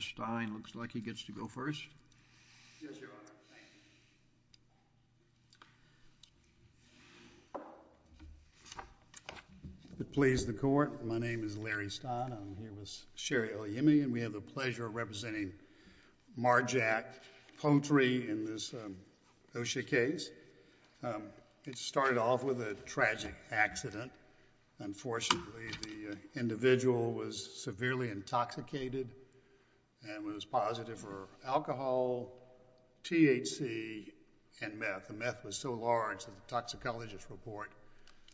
Mr. Stein, it looks like he gets to go first. Yes, Your Honor. Thank you. It pleases the Court. My name is Larry Stein. I'm here with Sherry Oyemi, and we have the pleasure of representing Mar-Jac Poultry in this OSHA case. It started off with a tragic accident. Unfortunately, the individual was severely intoxicated and was positive for alcohol, THC, and meth. The meth was so large that the toxicologist report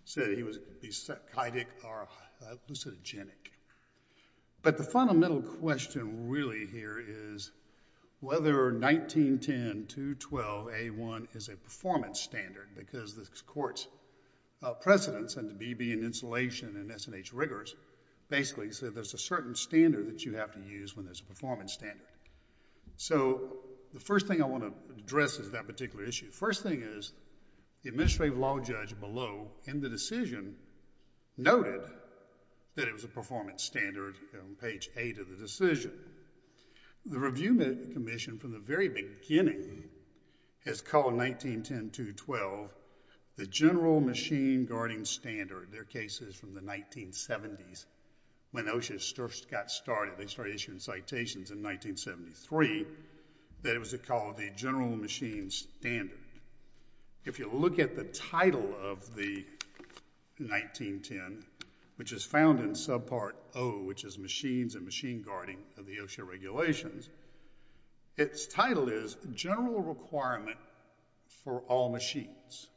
said he was either leucogenic. But the fundamental question really here is whether 1910.212.A1 is a performance standard because the Court's precedence under BB and insulation and S&H rigors basically said there's a certain standard that you have to use when there's a performance standard. So the first thing I want to address is that particular issue. The first thing is the administrative law judge below in the decision noted that it was a performance standard on page 8 of the decision. The Review Commission from the very beginning has called 1910.212 the General Machine Guarding Standard. Their case is from the 1970s when OSHA first got started. They started issuing citations in 1973 that it was called the General Machine Standard. If you look at the title of the 1910, which is found in subpart O, which is Machines and Machine Guarding of the OSHA regulations, its title is General Requirement for All Machines.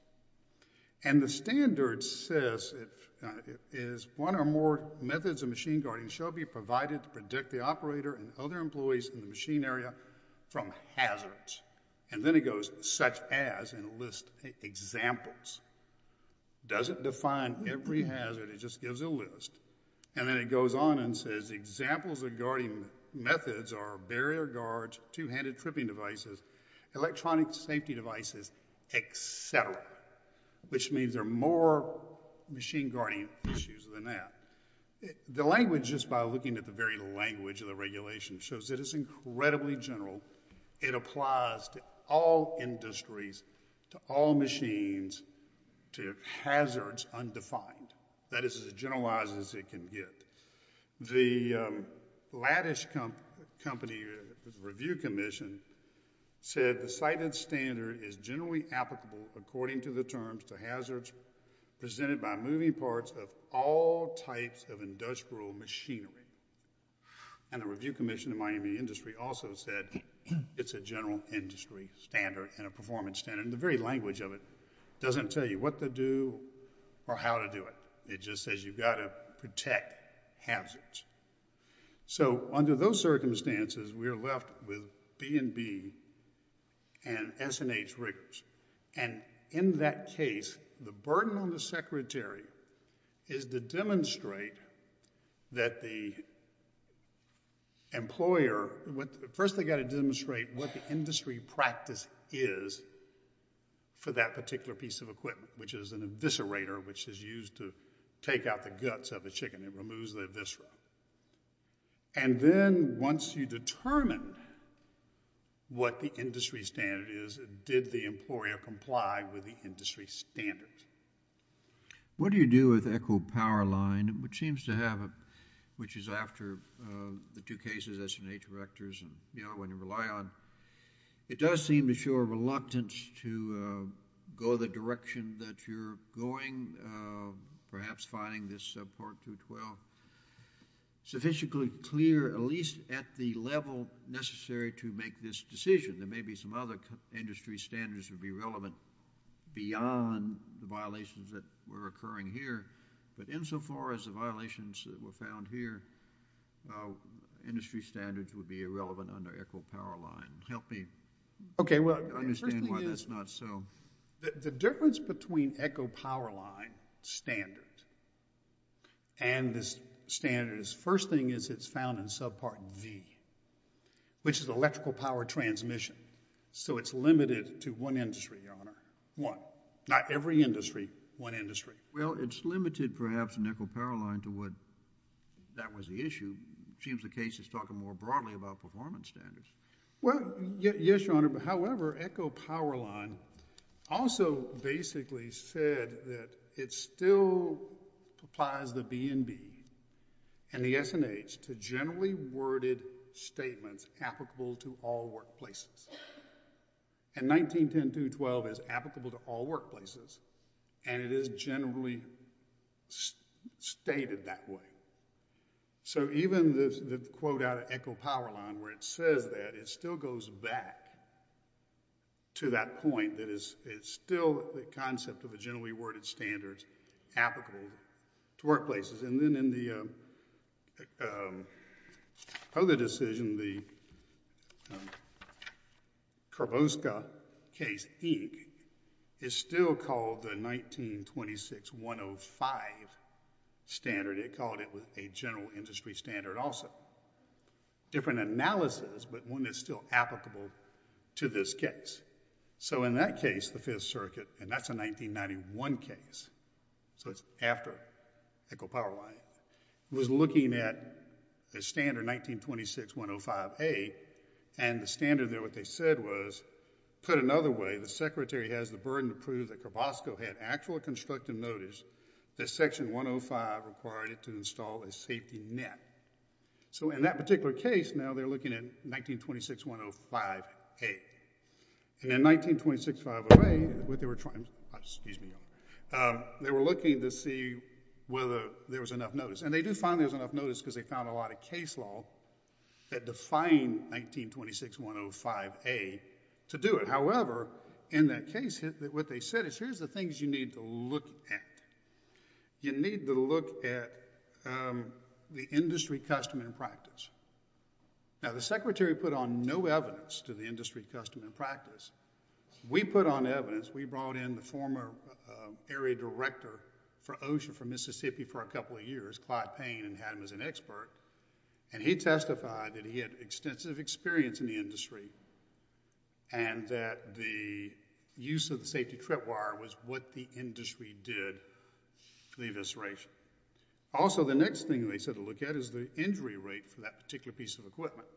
And the standard says it is one or more methods of machine guarding shall be provided to predict the operator and other employees in the machine area from hazards. And then it goes such as in a list of examples. It doesn't define every hazard. It just gives a list. And then it goes on and says examples of guarding methods are barrier guards, two-handed tripping devices, electronic safety devices, et cetera, which means there are more machine guarding issues than that. The language, just by looking at the very language of the regulation, shows that it's incredibly general. It applies to all industries, to all machines, to hazards undefined. That is as generalized as it can get. The Lattice Company Review Commission said the cited standard is generally applicable according to the terms to hazards presented by moving parts of all types of industrial machinery. And the Review Commission of the mining industry also said it's a general industry standard and a performance standard. And the very language of it doesn't tell you what to do or how to do it. It just says you've got to protect hazards. So under those circumstances, we are left with B&B and S&H records. And in that case, the burden on the secretary is to demonstrate that the employer, first they've got to demonstrate what the industry practice is for that particular piece of equipment, which is an eviscerator, which is used to take out the guts of a chicken. It removes the eviscera. And then once you determine what the industry standard is, did the employer comply with the industry standards? What do you do with Echo Power Line, which seems to have a, which is after the two cases, S&H records, and, you know, when you rely on, it does seem to show a reluctance to go the direction that you're going, perhaps finding this Part 212 sufficiently clear, at least at the level necessary to make this decision. There may be some other industry standards would be relevant beyond the violations that were occurring here. But insofar as the violations that were found here, industry standards would be irrelevant under Echo Power Line. Help me understand why that's not so. The difference between Echo Power Line standard and this standard is first thing is it's found in subpart V, which is electrical power transmission. So it's limited to one industry, Your Honor, one. Not every industry, one industry. Well, it's limited perhaps in Echo Power Line to what, that was the issue. It seems the case is talking more broadly about performance standards. Well, yes, Your Honor, however, Echo Power Line also basically said that it still applies the B&B and the S&H to generally worded statements applicable to all workplaces. And 19.10.2.12 is applicable to all workplaces and it is generally stated that way. So even the quote out of Echo Power Line where it says that, it still goes back to that point that it's still the concept of a generally worded standard applicable to workplaces. And then in the other decision, in the Karboska case, Inc., it's still called the 19.26.105 standard. It called it a general industry standard also. Different analysis, but one that's still applicable to this case. So in that case, the Fifth Circuit, and that's a 1991 case, so it's after Echo Power Line, was looking at the standard 19.26.105A and the standard there, what they said was, put another way, the secretary has the burden to prove that Karboska had actual constructive notice that section 105 required it to install a safety net. So in that particular case, now they're looking at 19.26.105A. And in 19.26.105A, what they were trying to, excuse me, they were looking to see whether there was enough notice. And they did find there was enough notice because they found a lot of case law that defined 19.26.105A to do it. However, in that case, what they said is, here's the things you need to look at. You need to look at the industry custom and practice. Now, the secretary put on no evidence to the industry custom and practice. We put on evidence, we brought in the former area director for OSHA for Mississippi for a couple of years, Clyde Payne, and had him as an expert. And he testified that he had extensive experience in the industry and that the use of the safety trip wire was what the industry did for the evisceration. Also, the next thing they said to look at is the injury rate for that particular piece of equipment.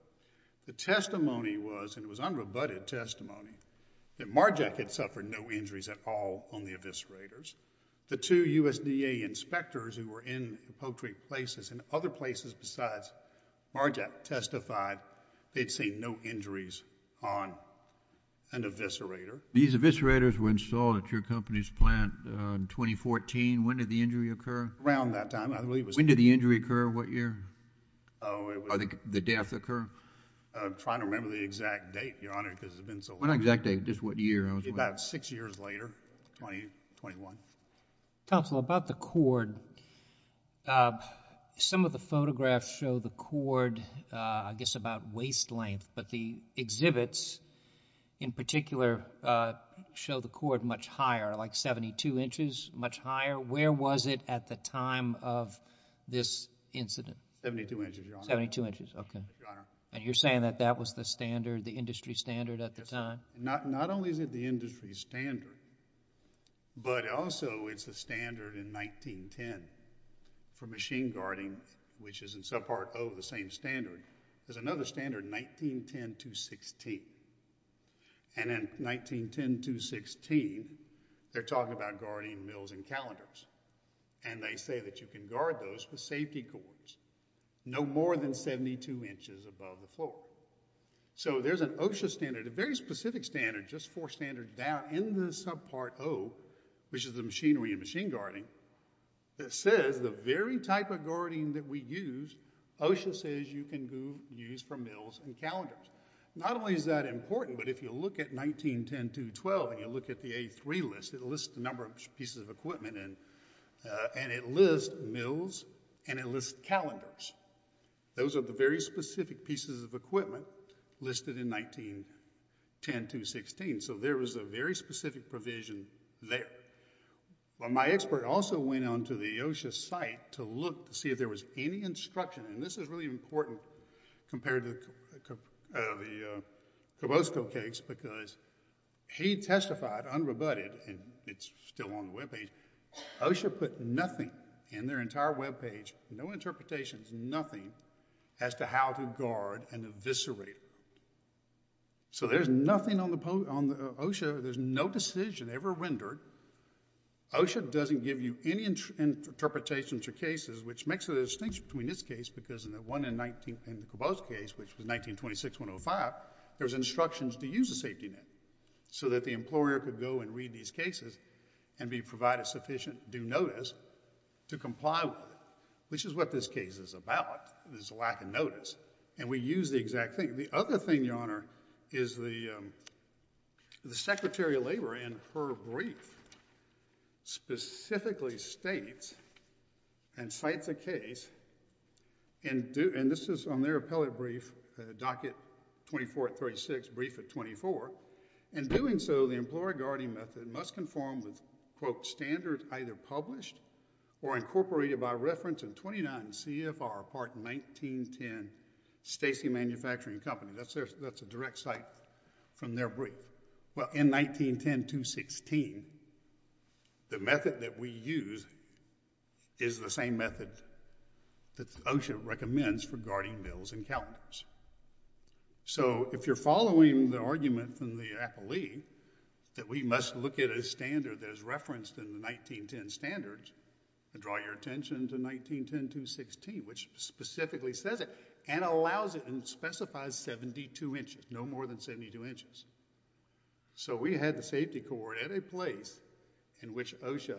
The testimony was, and it was unrebutted testimony, that MARJAC had suffered no injuries at all on the eviscerators. The two USDA inspectors who were in the Poultry places and other places besides MARJAC testified they'd seen no injuries on an eviscerator. These eviscerators were installed at your company's plant in 2014. When did the injury occur? Around that time. When did the injury occur? What year? The day after the occur? I'm trying to remember the exact date, Your Honor, because it's been so long. Not exact date, just what year. About 6 years later, 2021. Counselor, about the cord, some of the photographs show the cord, I guess about waist length, but the exhibits in particular show the cord much higher, like 72 inches, much higher. Where was it at the time of this incident? 72 inches, Your Honor. 72 inches, okay. Your Honor. And you're saying that that was the standard, the industry standard at the time? Not only is it the industry standard, but also it's a standard in 1910 for machine guarding, which is in some part of the same standard. There's another standard 1910-16. And in 1910-16, they're talking about guarding mills and calendars, and they say that you can guard those with safety cords, no more than 72 inches above the floor. So there's an OSHA standard, a very specific standard, just four standards down in the subpart O, which is the machinery and machine guarding, that says the very type of guarding that we use, OSHA says you can use for mills and calendars. Not only is that important, but if you look at 1910-212, and you look at the A-3 list, it lists the number of pieces of equipment, and it lists mills and it lists calendars. Those are the very specific pieces of equipment listed in 1910-216, so there is a very specific provision there. Well, my expert also went on to the OSHA site to look to see if there was any instruction, and this is really important compared to the Cobosco case, because he testified unrebutted, and it's still on the webpage, OSHA put nothing in their entire webpage, no interpretations, nothing, as to how to guard an eviscerator. So there's nothing on the OSHA, there's no decision ever rendered. OSHA doesn't give you any interpretations or cases, which makes a distinction between this case because in the Cobosco case, which was 1926-105, there's instructions to use a safety net so that the employer could go and read these cases and be provided sufficient due notice to comply with it, which is what this case is about, this lack of notice, and we use the exact thing. The other thing, Your Honor, is the Secretary of Labor, in her brief, specifically states and cites a case and this is on their appellate brief, docket 2436, brief of 24, in doing so, the employer guarding method must conform with, quote, standard either published or incorporated by reference in 29 CFR, part 1910, Stacy Manufacturing Company. That's a direct cite from their brief. Well, in 1910-16, the method that we use is the same method that OSHA recommends for guarding bills and calendars. So if you're following the argument from the appellee that we must look at a standard that is referenced in the 1910 standards and draw your attention to 1910-16, which specifically says it and allows it and specifies 72 inches, no more than 72 inches. So we had the safety cord at a place in which OSHA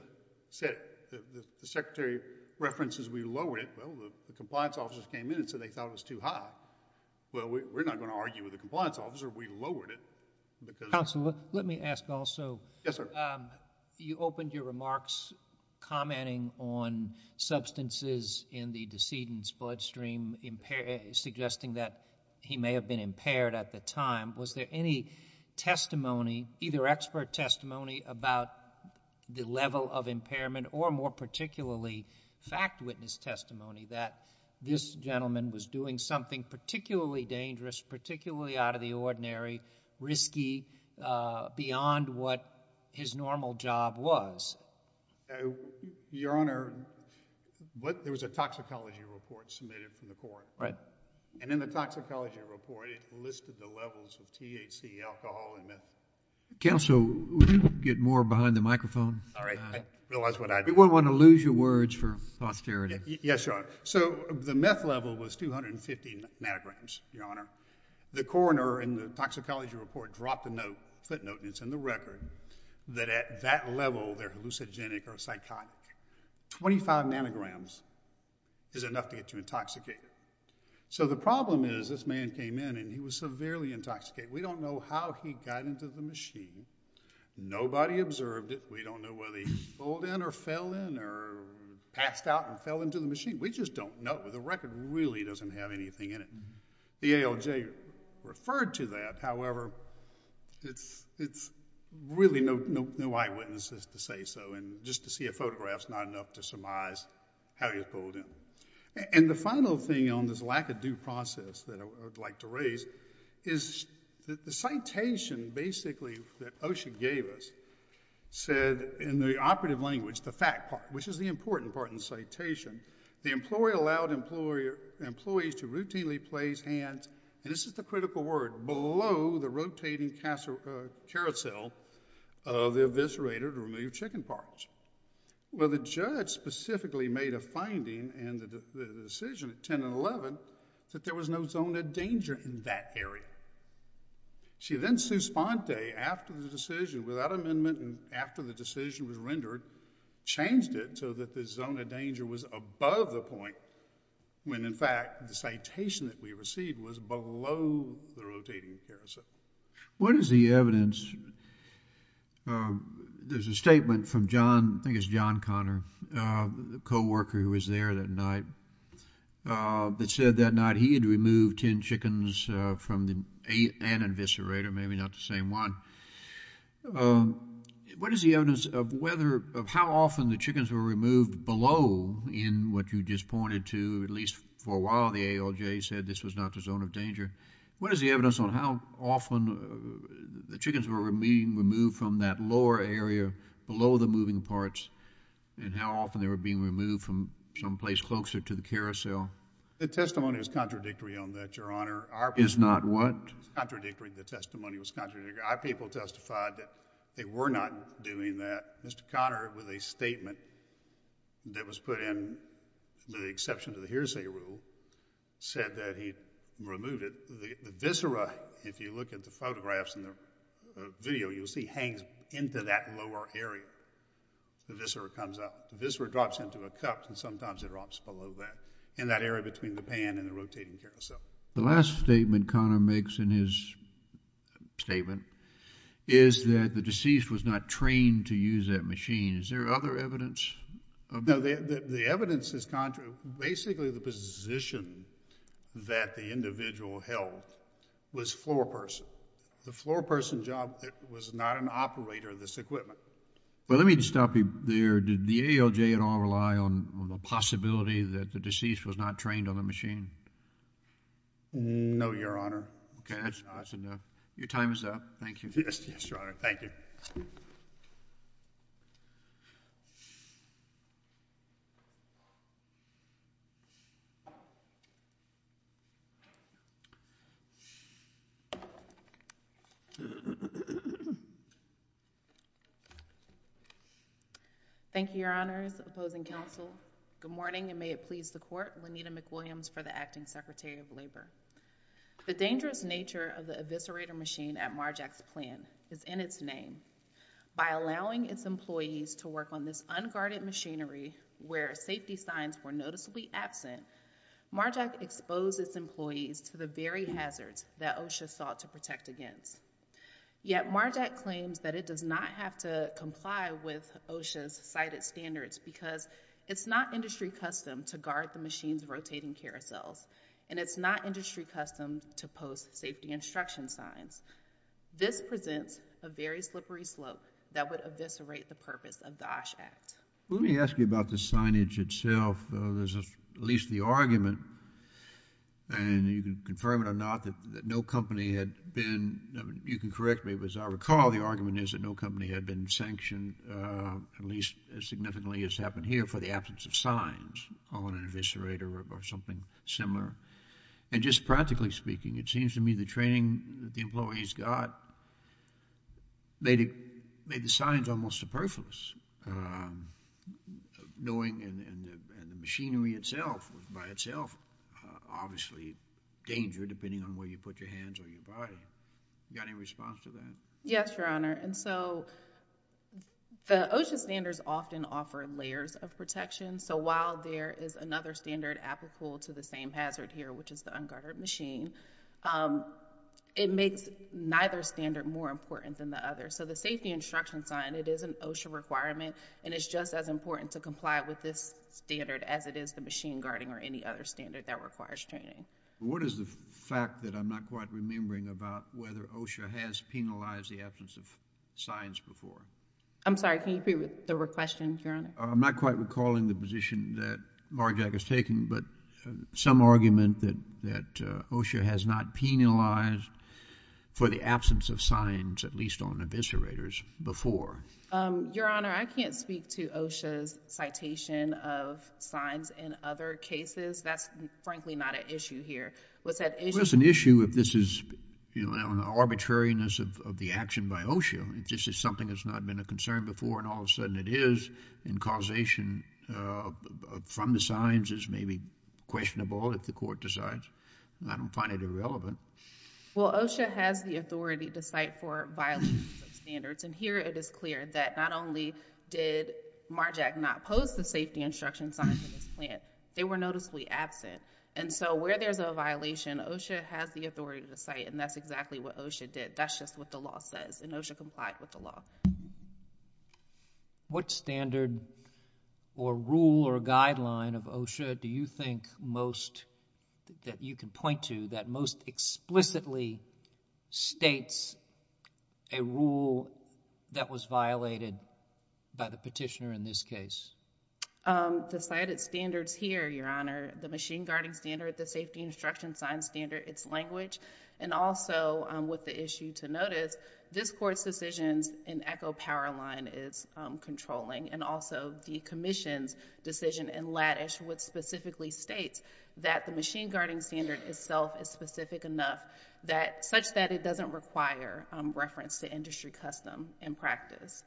said, the Secretary references we lowered it. Well, the compliance officers came in and said they thought it was too high. Well, we're not going to argue with the compliance officer. We lowered it because... Counsel, let me ask also. Yes, sir. You opened your remarks commenting on substances in the decedent's bloodstream, suggesting that he may have been impaired at the time. Was there any testimony, either expert testimony, about the level of impairment or more particularly fact witness testimony that this gentleman was doing something particularly dangerous, particularly out of the ordinary, risky, beyond what his normal job was? Your Honor, there was a toxicology report submitted from the court. Right. And in the toxicology report, it listed the levels of THC, alcohol, and meth. Counsel, would you get more behind the microphone? Sorry, I didn't realize what I did. We don't want to lose your words for posterity. Yes, Your Honor. So the meth level was 250 nanograms, Your Honor. The coroner in the toxicology report dropped a footnote, and it's in the record, that at that level they're hallucinogenic or psychotic. 25 nanograms is enough to get you intoxicated. So the problem is this man came in and he was severely intoxicated. We don't know how he got into the machine. Nobody observed it. We don't know whether he pulled in or fell in or passed out and fell into the machine. We just don't know. The record really doesn't have anything in it. The ALJ referred to that. However, it's really no eyewitnesses to say so, and just to see a photograph is not enough to surmise how he was pulled in. And the final thing on this lack of due process that I would like to raise is the citation, basically, that OSHA gave us said, in the operative language, the fact part, which is the important part in the citation, the employee allowed employees to routinely place hands, and this is the critical word, below the rotating carousel of the eviscerator to remove chicken parts. Well, the judge specifically made a finding in the decision at 10 and 11 that there was no zone of danger in that area. She then, Suspante, after the decision, without amendment and after the decision was rendered, changed it so that the zone of danger was above the point when, in fact, the citation that we received was below the rotating carousel. What is the evidence? There's a statement from John, I think it's John Connor, the co-worker who was there that night, that said that night he had removed 10 chickens from an eviscerator, maybe not the same one. What is the evidence of whether, of how often the chickens were removed below in what you just pointed to? At least for a while, the ALJ said this was not the zone of danger. What is the evidence on how often the chickens were being removed from that lower area, below the moving parts, and how often they were being removed from someplace closer to the carousel? The testimony was contradictory on that, Your Honor. Is not what? Contradictory, the testimony was contradictory. Our people testified that they were not doing that. Mr. Connor, with a statement that was put in, with the exception of the hearsay rule, said that he'd removed it. The viscera, if you look at the photographs and the video, you'll see hangs into that lower area. The viscera comes up. The viscera drops into a cup, and sometimes it drops below that, in that area between the pan and the rotating carousel. The last statement Connor makes in his statement is that the deceased was not trained to use that machine. Is there other evidence? No, the evidence is contrary. Basically, the position that the individual held was floor person. The floor person job was not an operator of this equipment. Well, let me stop you there. Did the AOJ at all rely on the possibility that the deceased was not trained on the machine? No, Your Honor. Okay, that's enough. Your time is up. Thank you. Yes, Your Honor. Thank you. Thank you, Your Honors, opposing counsel. Good morning, and may it please the court. Lenita McWilliams for the Acting Secretary of Labor. The dangerous nature of the eviscerator machine at Marjack's plant is in its name. By allowing its employees to work on this unguarded machinery where safety signs were noticeably absent, Marjack exposed its employees to the very hazards that OSHA sought to protect them from. Yet Marjack claims that it does not have to comply with OSHA's cited standards because it's not industry custom to guard the machine's rotating carousels, and it's not industry custom to post safety instruction signs. This presents a very slippery slope that would eviscerate the purpose of the OSH Act. Let me ask you about the signage itself. There's at least the argument, and you can confirm it or not, that no company had been... You can correct me, but as I recall, the argument is that no company had been sanctioned, at least as significantly as happened here, for the absence of signs on an eviscerator or something similar. And just practically speaking, it seems to me the training that the employees got made the signs almost superfluous. Knowing... And the machinery itself was by itself obviously danger, depending on where you put your hands or your body. You got any response to that? Yes, Your Honor. And so the OSHA standards often offer layers of protection. So while there is another standard applicable to the same hazard here, which is the unguarded machine, it makes neither standard more important than the other. So the safety instruction sign, it is an OSHA requirement, and it's just as important to comply with this standard as it is the machine guarding or any other standard that requires training. What is the fact that I'm not quite remembering about whether OSHA has penalized the absence of signs before? I'm sorry, can you repeat the question, Your Honor? I'm not quite recalling the position that Marjack has taken, but some argument that OSHA has not penalized for the absence of signs, at least on eviscerators, before. Your Honor, I can't speak to OSHA's citation of signs in other cases. That's frankly not an issue here. Well, it's an issue if this is an arbitrariness of the action by OSHA. If this is something that's not been a concern before and all of a sudden it is, and causation from the signs is maybe questionable if the court decides. I don't find it irrelevant. Well, OSHA has the authority to cite for violations of standards, and here it is clear that not only did Marjack not post the safety instruction signs in his plan, they were noticeably absent. And so where there's a violation, OSHA has the authority to cite, and that's exactly what OSHA did. That's just what the law says, and OSHA complied with the law. What standard or rule or guideline of OSHA do you think most that you can point to that most explicitly states a rule that was violated by the petitioner in this case? The cited standards here, Your Honor, the machine guarding standard, the safety instruction sign standard, its language, and also with the issue to notice, this Court's decisions in Echo Powerline is controlling, and also the Commission's decision in Laddish which specifically states that the machine guarding standard itself is specific enough such that it doesn't require reference to industry custom and practice.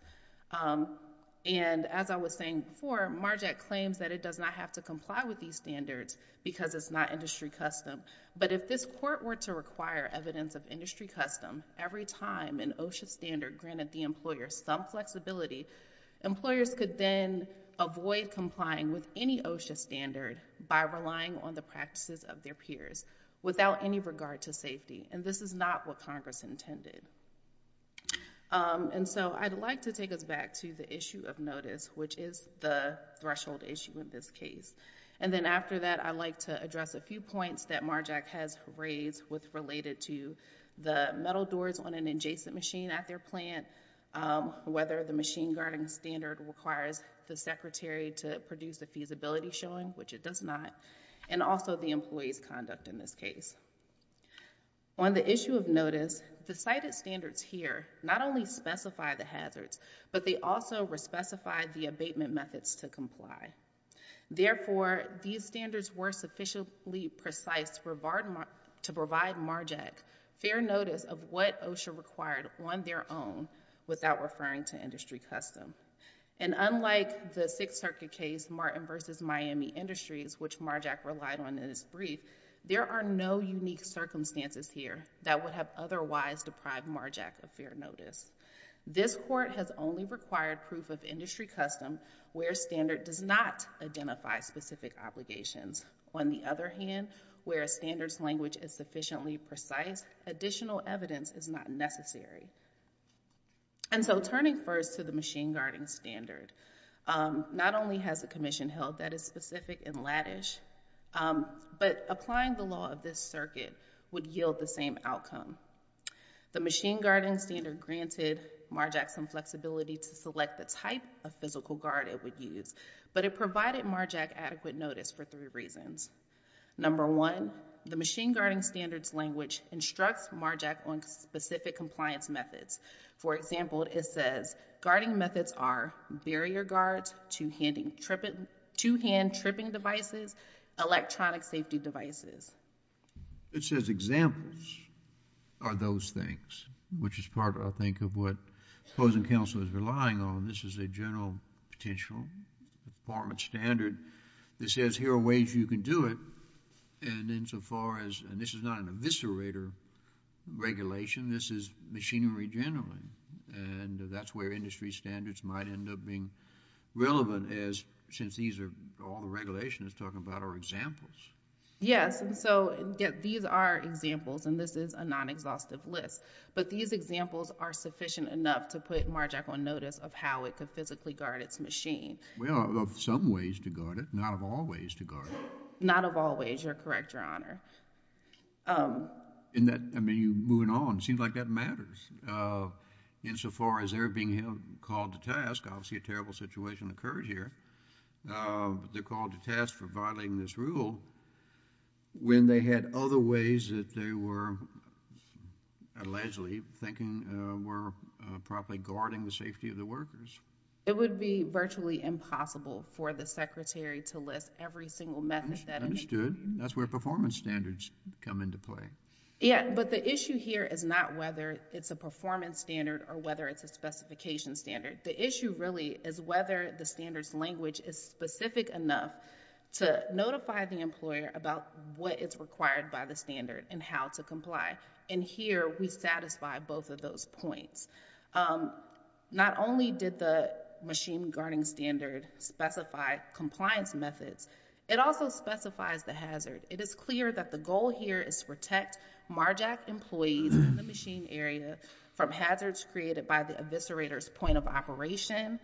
And as I was saying before, Marjack claims that it does not have to comply with these standards because it's not industry custom, but if this Court were to require evidence of industry custom every time an OSHA standard granted the employer some flexibility, employers could then avoid complying with any OSHA standard by relying on the practices of their peers without any regard to safety, and this is not what Congress intended. And so I'd like to take us back to the issue of notice, which is the threshold issue in this case. And then after that, I'd like to address a few points that Marjack has raised related to the metal doors on an adjacent machine at their plant, whether the machine guarding standard requires the secretary to produce a feasibility showing, which it does not, and also the employee's conduct in this case. On the issue of notice, the cited standards here not only specify the hazards, but they also re-specify the abatement methods to comply. Therefore, these standards were sufficiently precise to provide Marjack fair notice of what OSHA required on their own without referring to industry custom. And unlike the Sixth Circuit case, Martin v. Miami Industries, which Marjack relied on in its brief, there are no unique circumstances here that would have otherwise deprived Marjack of fair notice. This court has only required proof of industry custom where a standard does not identify specific obligations. On the other hand, where a standard's language is sufficiently precise, additional evidence is not necessary. And so turning first to the machine guarding standard, not only has a commission held that is specific and lattish, but applying the law of this circuit would yield the same outcome. The machine guarding standard granted Marjack some flexibility to select the type of physical guard it would use, but it provided Marjack adequate notice for three reasons. Number one, the machine guarding standard's language instructs Marjack on specific compliance methods. For example, it says, guarding methods are barrier guards, two-hand tripping devices, electronic safety devices. It says examples are those things, which is part, I think, of what opposing counsel is relying on. This is a general potential department standard that says here are ways you can do it. And insofar as, and this is not an eviscerator regulation, this is machinery generally. And that's where industry standards might end up being relevant since all the regulations it's talking about are examples. Yes, and so these are examples, and this is a non-exhaustive list. But these examples are sufficient enough to put Marjack on notice of how it could physically guard its machine. Well, of some ways to guard it, not of all ways to guard it. Not of all ways, you're correct, Your Honor. Moving on, it seems like that matters. Insofar as they're being called to task, obviously a terrible situation occurred here. They're called to task for violating this rule when they had other ways that they were allegedly thinking were probably guarding the safety of the workers. It would be virtually impossible for the secretary to list every single method that it may contain. Understood. That's where performance standards come into play. Yeah, but the issue here is not whether it's a performance standard or whether it's a specification standard. The issue really is whether the standard's language is specific enough to notify the employer about what is required by the standard and how to comply. And here we satisfy both of those points. Not only did the machine-guarding standard specify compliance methods, it also specifies the hazard. It is clear that the goal here is to protect MARJAC employees in the machine area from hazards created by the eviscerator's point of operation,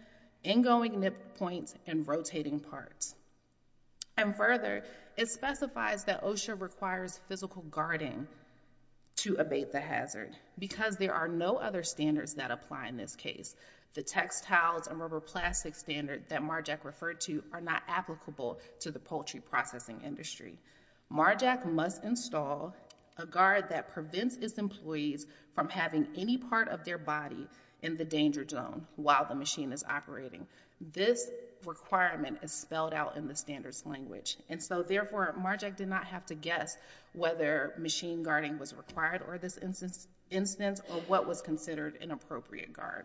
ingoing nip points, and rotating parts. And further, it specifies that OSHA requires physical guarding to abate the hazard because there are no other standards that apply in this case. The textiles and rubber plastic standard that MARJAC referred to are not applicable to the poultry processing industry. MARJAC must install a guard that prevents its employees from having any part of their body in the danger zone while the machine is operating. This requirement is spelled out in the standards language. And so, therefore, MARJAC did not have to guess whether machine-guarding was required for this instance or what was considered an appropriate guard.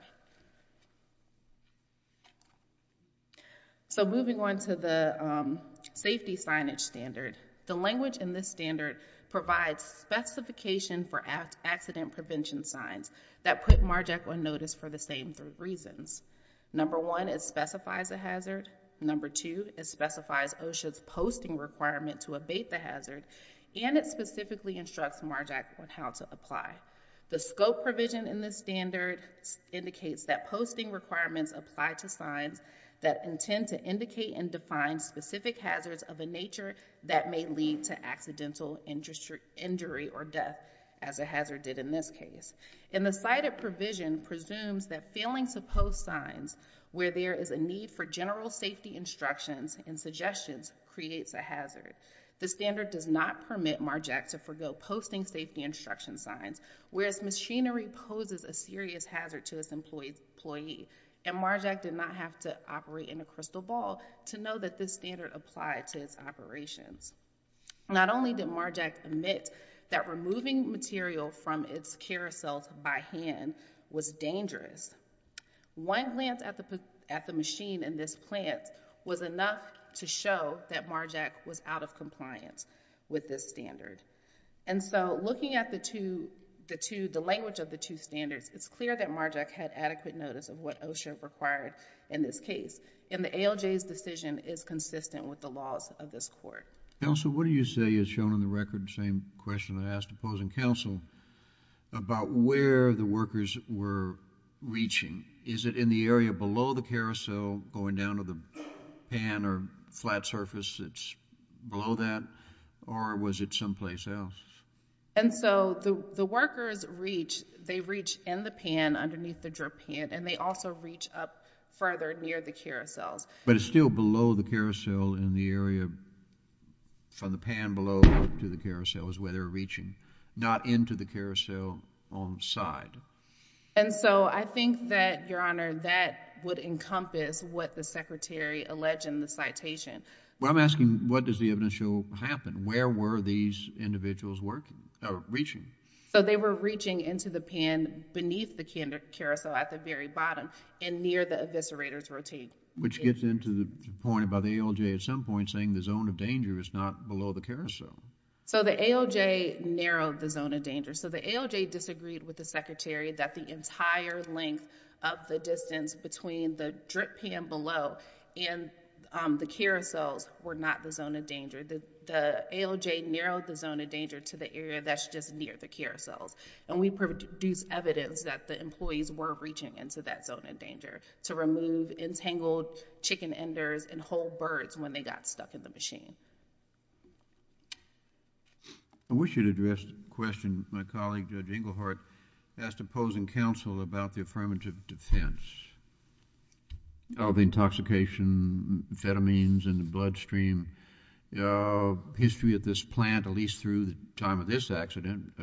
So moving on to the safety signage standard. The language in this standard provides specification for accident prevention signs that put MARJAC on notice for the same three reasons. Number one, it specifies a hazard. Number two, it specifies OSHA's posting requirement to abate the hazard. And it specifically instructs MARJAC on how to apply. The scope provision in this standard indicates that posting requirements apply to signs that intend to indicate and define specific hazards of a nature that may lead to accidental injury or death, as a hazard did in this case. And the cited provision presumes that failing to post signs where there is a need for general safety instructions and suggestions creates a hazard. The standard does not permit MARJAC to forego posting safety instruction signs, whereas machinery poses a serious hazard to its employee. And MARJAC did not have to operate in a crystal ball to know that this standard applied to its operations. Not only did MARJAC admit that removing material from its carousel by hand was dangerous, one glance at the machine in this plant was enough to show that MARJAC was out of compliance with this standard. And so, looking at the language of the two standards, it's clear that MARJAC had adequate notice of what OSHA required in this case. And the ALJ's decision is consistent with the laws of this Court. Counsel, what do you say is shown on the record, the same question I asked opposing counsel, about where the workers were reaching? Is it in the area below the carousel, going down to the pan or flat surface that's below that, or was it someplace else? And so the workers reach, they reach in the pan underneath the drip pan, and they also reach up further near the carousels. But it's still below the carousel in the area from the pan below to the carousel is where they're reaching, not into the carousel on the side. And so I think that, Your Honour, that would encompass what the Secretary alleged in the citation. Well, I'm asking, what does the evidence show happened? Where were these individuals reaching? So they were reaching into the pan beneath the carousel at the very bottom and near the eviscerator's routine. Which gets into the point about the ALJ at some point saying the zone of danger is not below the carousel. So the ALJ narrowed the zone of danger. So the ALJ disagreed with the Secretary that the entire length of the distance between the drip pan below and the carousels were not the zone of danger. The ALJ narrowed the zone of danger to the area that's just near the carousels. And we produced evidence that the employees were reaching into that zone of danger to remove entangled chicken enders and whole birds when they got stuck in the machine. I wish you'd addressed the question. My colleague, Judge Englehart, asked opposing counsel about the affirmative defense of the intoxication of amphetamines in the bloodstream. History at this plant, at least through the time of this accident,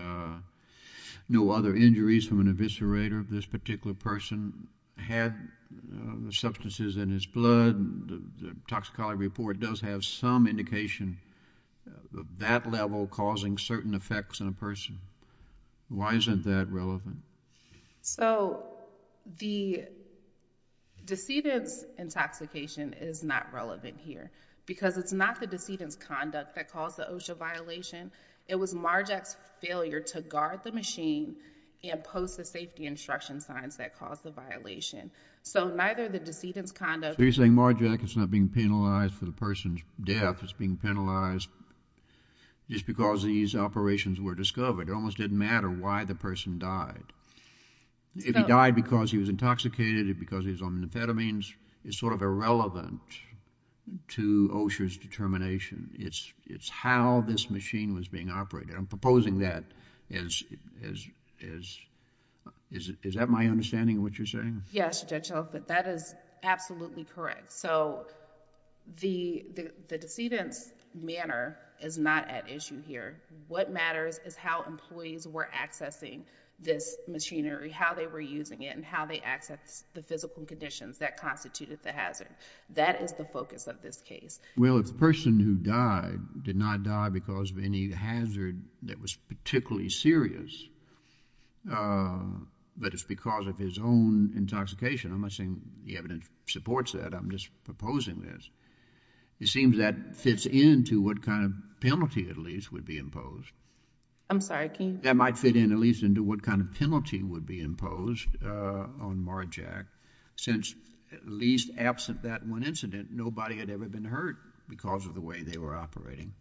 no other injuries from an eviscerator of this particular person had the substances in his blood. The toxicology report does have some indication of that level causing certain effects in a person. Why isn't that relevant? So the decedent's intoxication is not relevant here because it's not the decedent's conduct that caused the OSHA violation. It was Marjack's failure to guard the machine and post the safety instruction signs that caused the violation. So neither the decedent's conduct... So you're saying Marjack is not being penalized for the person's death. It's being penalized just because these operations were discovered. It almost didn't matter why the person died. If he died because he was intoxicated or because he was on amphetamines, it's sort of irrelevant to OSHA's determination. It's how this machine was being operated. I'm proposing that as... Is that my understanding of what you're saying? Yes, Judge Oak, but that is absolutely correct. So the decedent's manner is not at issue here. What matters is how employees were accessing this machinery, how they were using it and how they accessed the physical conditions that constituted the hazard. That is the focus of this case. Well, if the person who died did not die because of any hazard that was particularly serious, but it's because of his own intoxication, I'm not saying the evidence supports that. I'm just proposing this. It seems that fits into what kind of penalty at least would be imposed. I'm sorry, King? That might fit in at least into what kind of penalty would be imposed on Marjack since, at least absent that one incident, nobody had ever been hurt because of the way they were operating.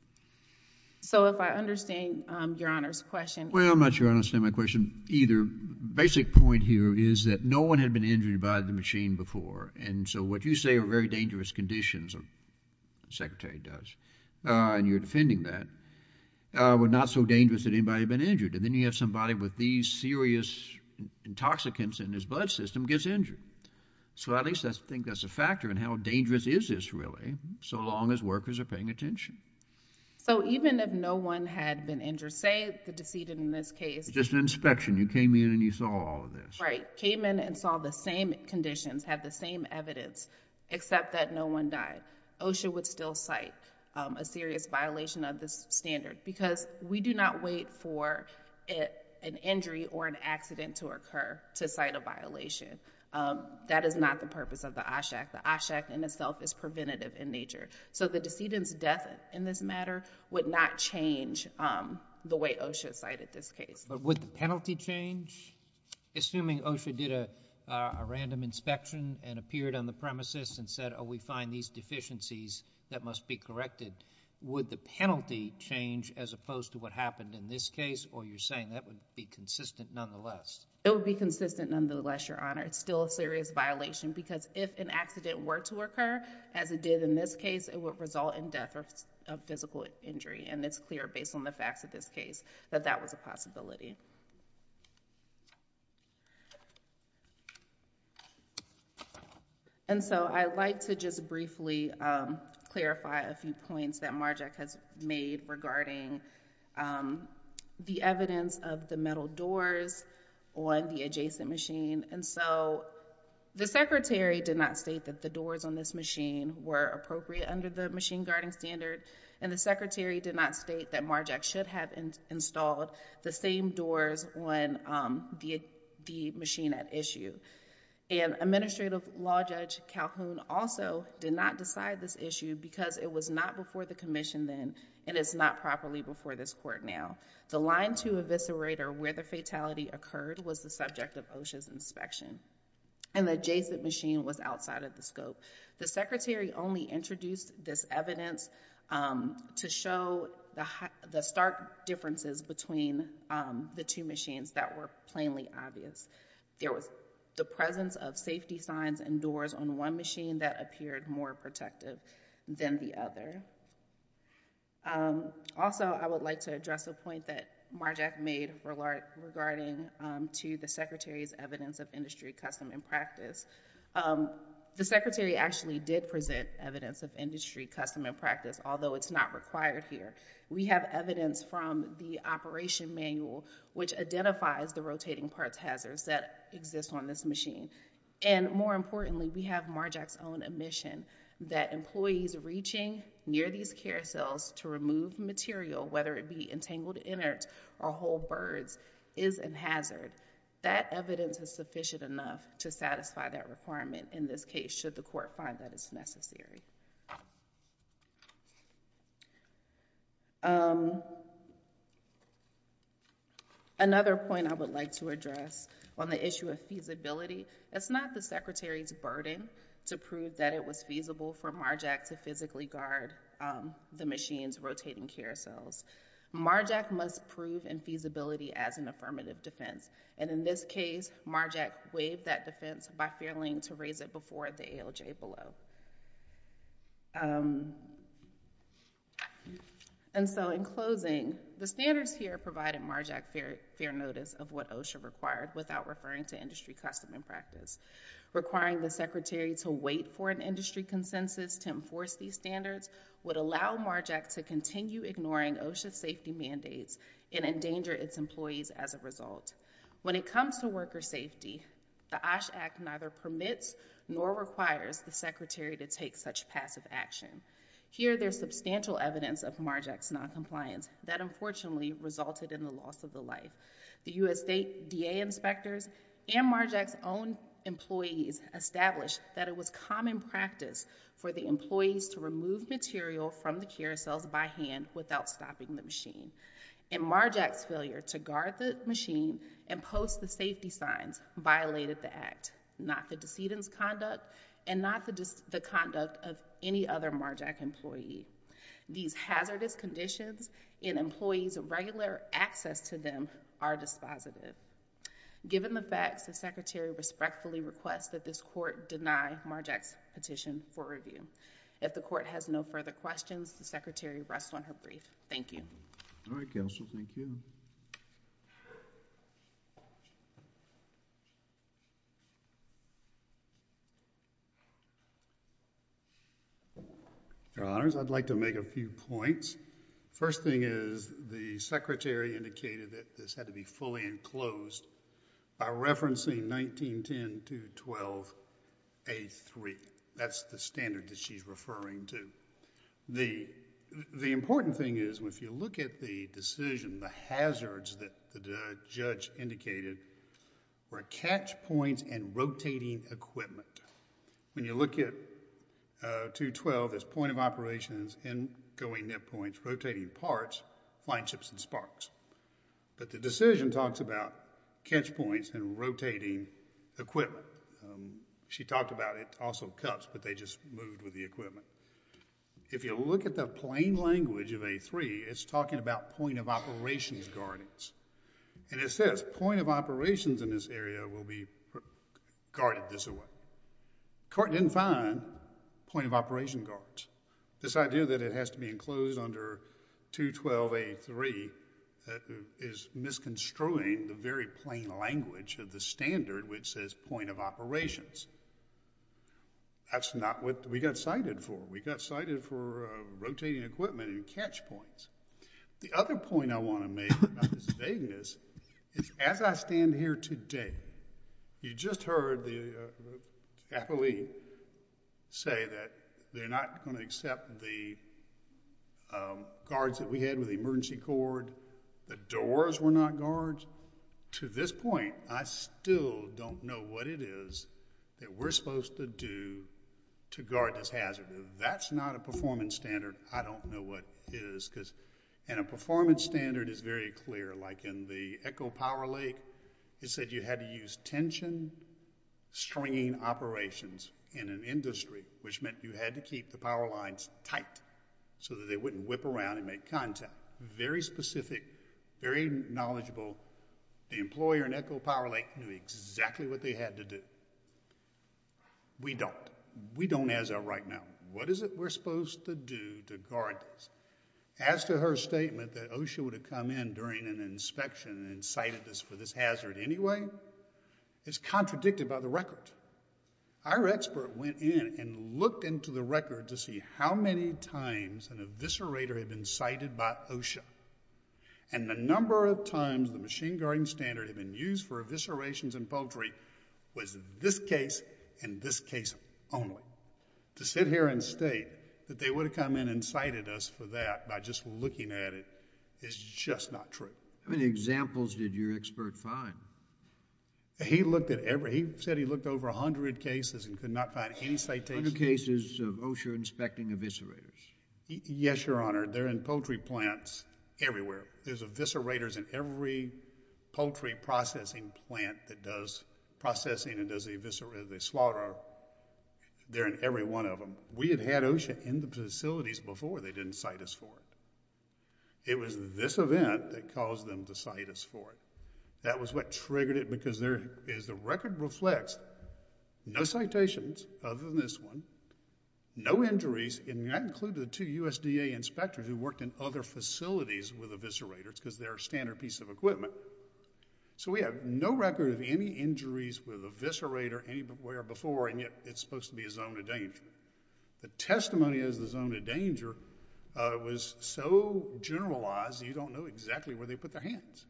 So if I understand Your Honor's question... Well, I'm not sure I understand my question either. The basic point here is that no one had been injured by the machine before, and so what you say are very dangerous conditions, the Secretary does, and you're defending that, were not so dangerous that anybody had been injured. Then you have somebody with these serious intoxicants in his blood system gets injured. So at least I think that's a factor in how dangerous is this really so long as workers are paying attention. So even if no one had been injured, say the decedent in this case... Just an inspection. You came in and you saw all of this. Right, came in and saw the same conditions, had the same evidence except that no one died. OSHA would still cite a serious violation of this standard because we do not wait for an injury or an accident to occur to cite a violation. That is not the purpose of the OSHAC. The OSHAC in itself is preventative in nature. So the decedent's death in this matter would not change the way OSHA cited this case. But would the penalty change? Assuming OSHA did a random inspection and appeared on the premises and said, oh, we find these deficiencies that must be corrected, would the penalty change as opposed to what happened in this case? Or you're saying that would be consistent nonetheless? It would be consistent nonetheless, Your Honor. It's still a serious violation because if an accident were to occur, as it did in this case, it would result in death or physical injury. And it's clear based on the facts of this case that that was a possibility. And so I'd like to just briefly clarify a few points that Marjack has made regarding the evidence of the metal doors on the adjacent machine. And so the secretary did not state that the doors on this machine were appropriate under the machine guarding standard, and the secretary did not state that Marjack should have installed the same doors on the machine at issue. And Administrative Law Judge Calhoun also did not decide this issue because it was not before the commission then and it's not properly before this court now. The line to eviscerator where the fatality occurred was the subject of OSHA's inspection, and the adjacent machine was outside of the scope. The secretary only introduced this evidence to show the stark differences between the two machines that were plainly obvious. There was the presence of safety signs and doors on one machine that appeared more protective than the other. Also, I would like to address a point that Marjack made regarding to the secretary's evidence of industry custom and practice. The secretary actually did present evidence of industry custom and practice, although it's not required here. We have evidence from the operation manual which identifies the rotating parts hazards that exist on this machine. And more importantly, we have Marjack's own admission that employees reaching near these carousels to remove material, whether it be entangled innards or whole birds, is a hazard. That evidence is sufficient enough to satisfy that requirement in this case should the court find that it's necessary. Another point I would like to address on the issue of feasibility, it's not the secretary's burden to prove that it was feasible for Marjack to physically guard the machine's rotating carousels. Marjack must prove in feasibility as an affirmative defense. And in this case, Marjack waived that defense by failing to raise it before the ALJ below. And so in closing, the standards here provided Marjack fair notice of what OSHA required without referring to industry custom and practice. Requiring the secretary to wait for an industry consensus to enforce these standards would allow Marjack to continue ignoring OSHA safety mandates and endanger its employees as a result. When it comes to worker safety, the OSHA Act neither permits nor requires the secretary to take such passive action. Here there's substantial evidence of Marjack's noncompliance that unfortunately resulted in the loss of the life. The U.S. State DA inspectors and Marjack's own employees established that it was common practice for the employees to remove material from the carousels by hand without stopping the machine. And Marjack's failure to guard the machine and post the safety signs violated the Act, not the decedent's conduct and not the conduct of any other Marjack employee. These hazardous conditions in employees' regular access to them are dispositive. Given the facts, the secretary respectfully requests that this court deny Marjack's petition for review. If the court has no further questions, the secretary rests on her brief. Thank you. All right, counsel. Thank you. Your Honors, I'd like to make a few points. First thing is the secretary indicated that this had to be fully enclosed by referencing 1910 to 12A3. That's the standard that she's referring to. The important thing is if you look at the decision, the hazards that the judge indicated were catch points and rotating equipment. When you look at 212, there's point of operations, in-going nip points, rotating parts, flying ships, and sparks. But the decision talks about catch points and rotating equipment. She talked about it also cuts, but they just moved with the equipment. If you look at the plain language of A3, it's talking about point of operations guardings. And it says point of operations in this area will be guarded this way. Court didn't find point of operation guards. This idea that it has to be enclosed under 212A3 is misconstruing the very plain language of the standard which says point of operations. That's not what we got cited for. We got cited for rotating equipment and catch points. The other point I want to make about this vagueness is as I stand here today, you just heard the athlete say that they're not going to accept the guards that we had with the emergency cord. The doors were not guards. To this point, I still don't know what it is that we're supposed to do to guard this hazard. If that's not a performance standard, I don't know what it is. And a performance standard is very clear. Like in the Echo Power Lake, it said you had to use tension stringing operations in an industry, which meant you had to keep the power lines tight so that they wouldn't whip around and make contact. Very specific, very knowledgeable. The employer in Echo Power Lake knew exactly what they had to do. We don't. We don't as of right now. What is it we're supposed to do to guard this? As to her statement that OSHA would have come in during an inspection and cited this for this hazard anyway, it's contradicted by the record. Our expert went in and looked into the record to see how many times an eviscerator had been cited by OSHA, and the number of times the machine guarding standard had been used for eviscerations in poultry was this case and this case only. To sit here and state that they would have come in and cited us for that by just looking at it is just not true. How many examples did your expert find? He looked at every... He said he looked over 100 cases and could not find any citations. 100 cases of OSHA inspecting eviscerators. Yes, Your Honor. They're in poultry plants everywhere. There's eviscerators in every poultry processing plant that does processing and does the slaughter. They're in every one of them. We had had OSHA in the facilities before. They didn't cite us for it. It was this event that caused them to cite us for it. That was what triggered it because there is... No citations other than this one. No injuries, and that included the two USDA inspectors who worked in other facilities with eviscerators because they're a standard piece of equipment. So we have no record of any injuries with an eviscerator anywhere before, and yet it's supposed to be a zone of danger. The testimony of the zone of danger was so generalized, you don't know exactly where they put their hands.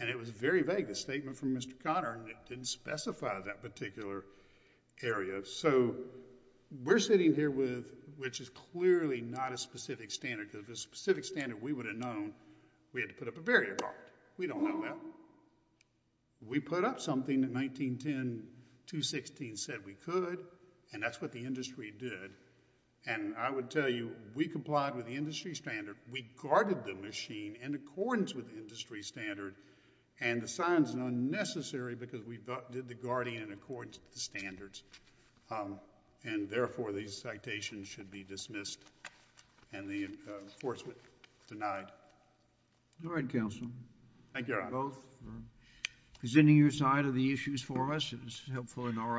And it was very vague. The statement from Mr. Conner didn't specify that particular area. So we're sitting here with... which is clearly not a specific standard because if it was a specific standard, we would have known we had to put up a barrier guard. We don't know that. We put up something in 1910, 216 said we could, and that's what the industry did. And I would tell you we complied with the industry standard. We guarded the machine in accordance with the industry standard, and the sign is unnecessary because we did the guarding in accordance with the standards. And therefore, these citations should be dismissed and the enforcement denied. All right, Counselor. Thank you, Your Honor. Both for presenting your side of the issues for us. It was helpful in our understanding.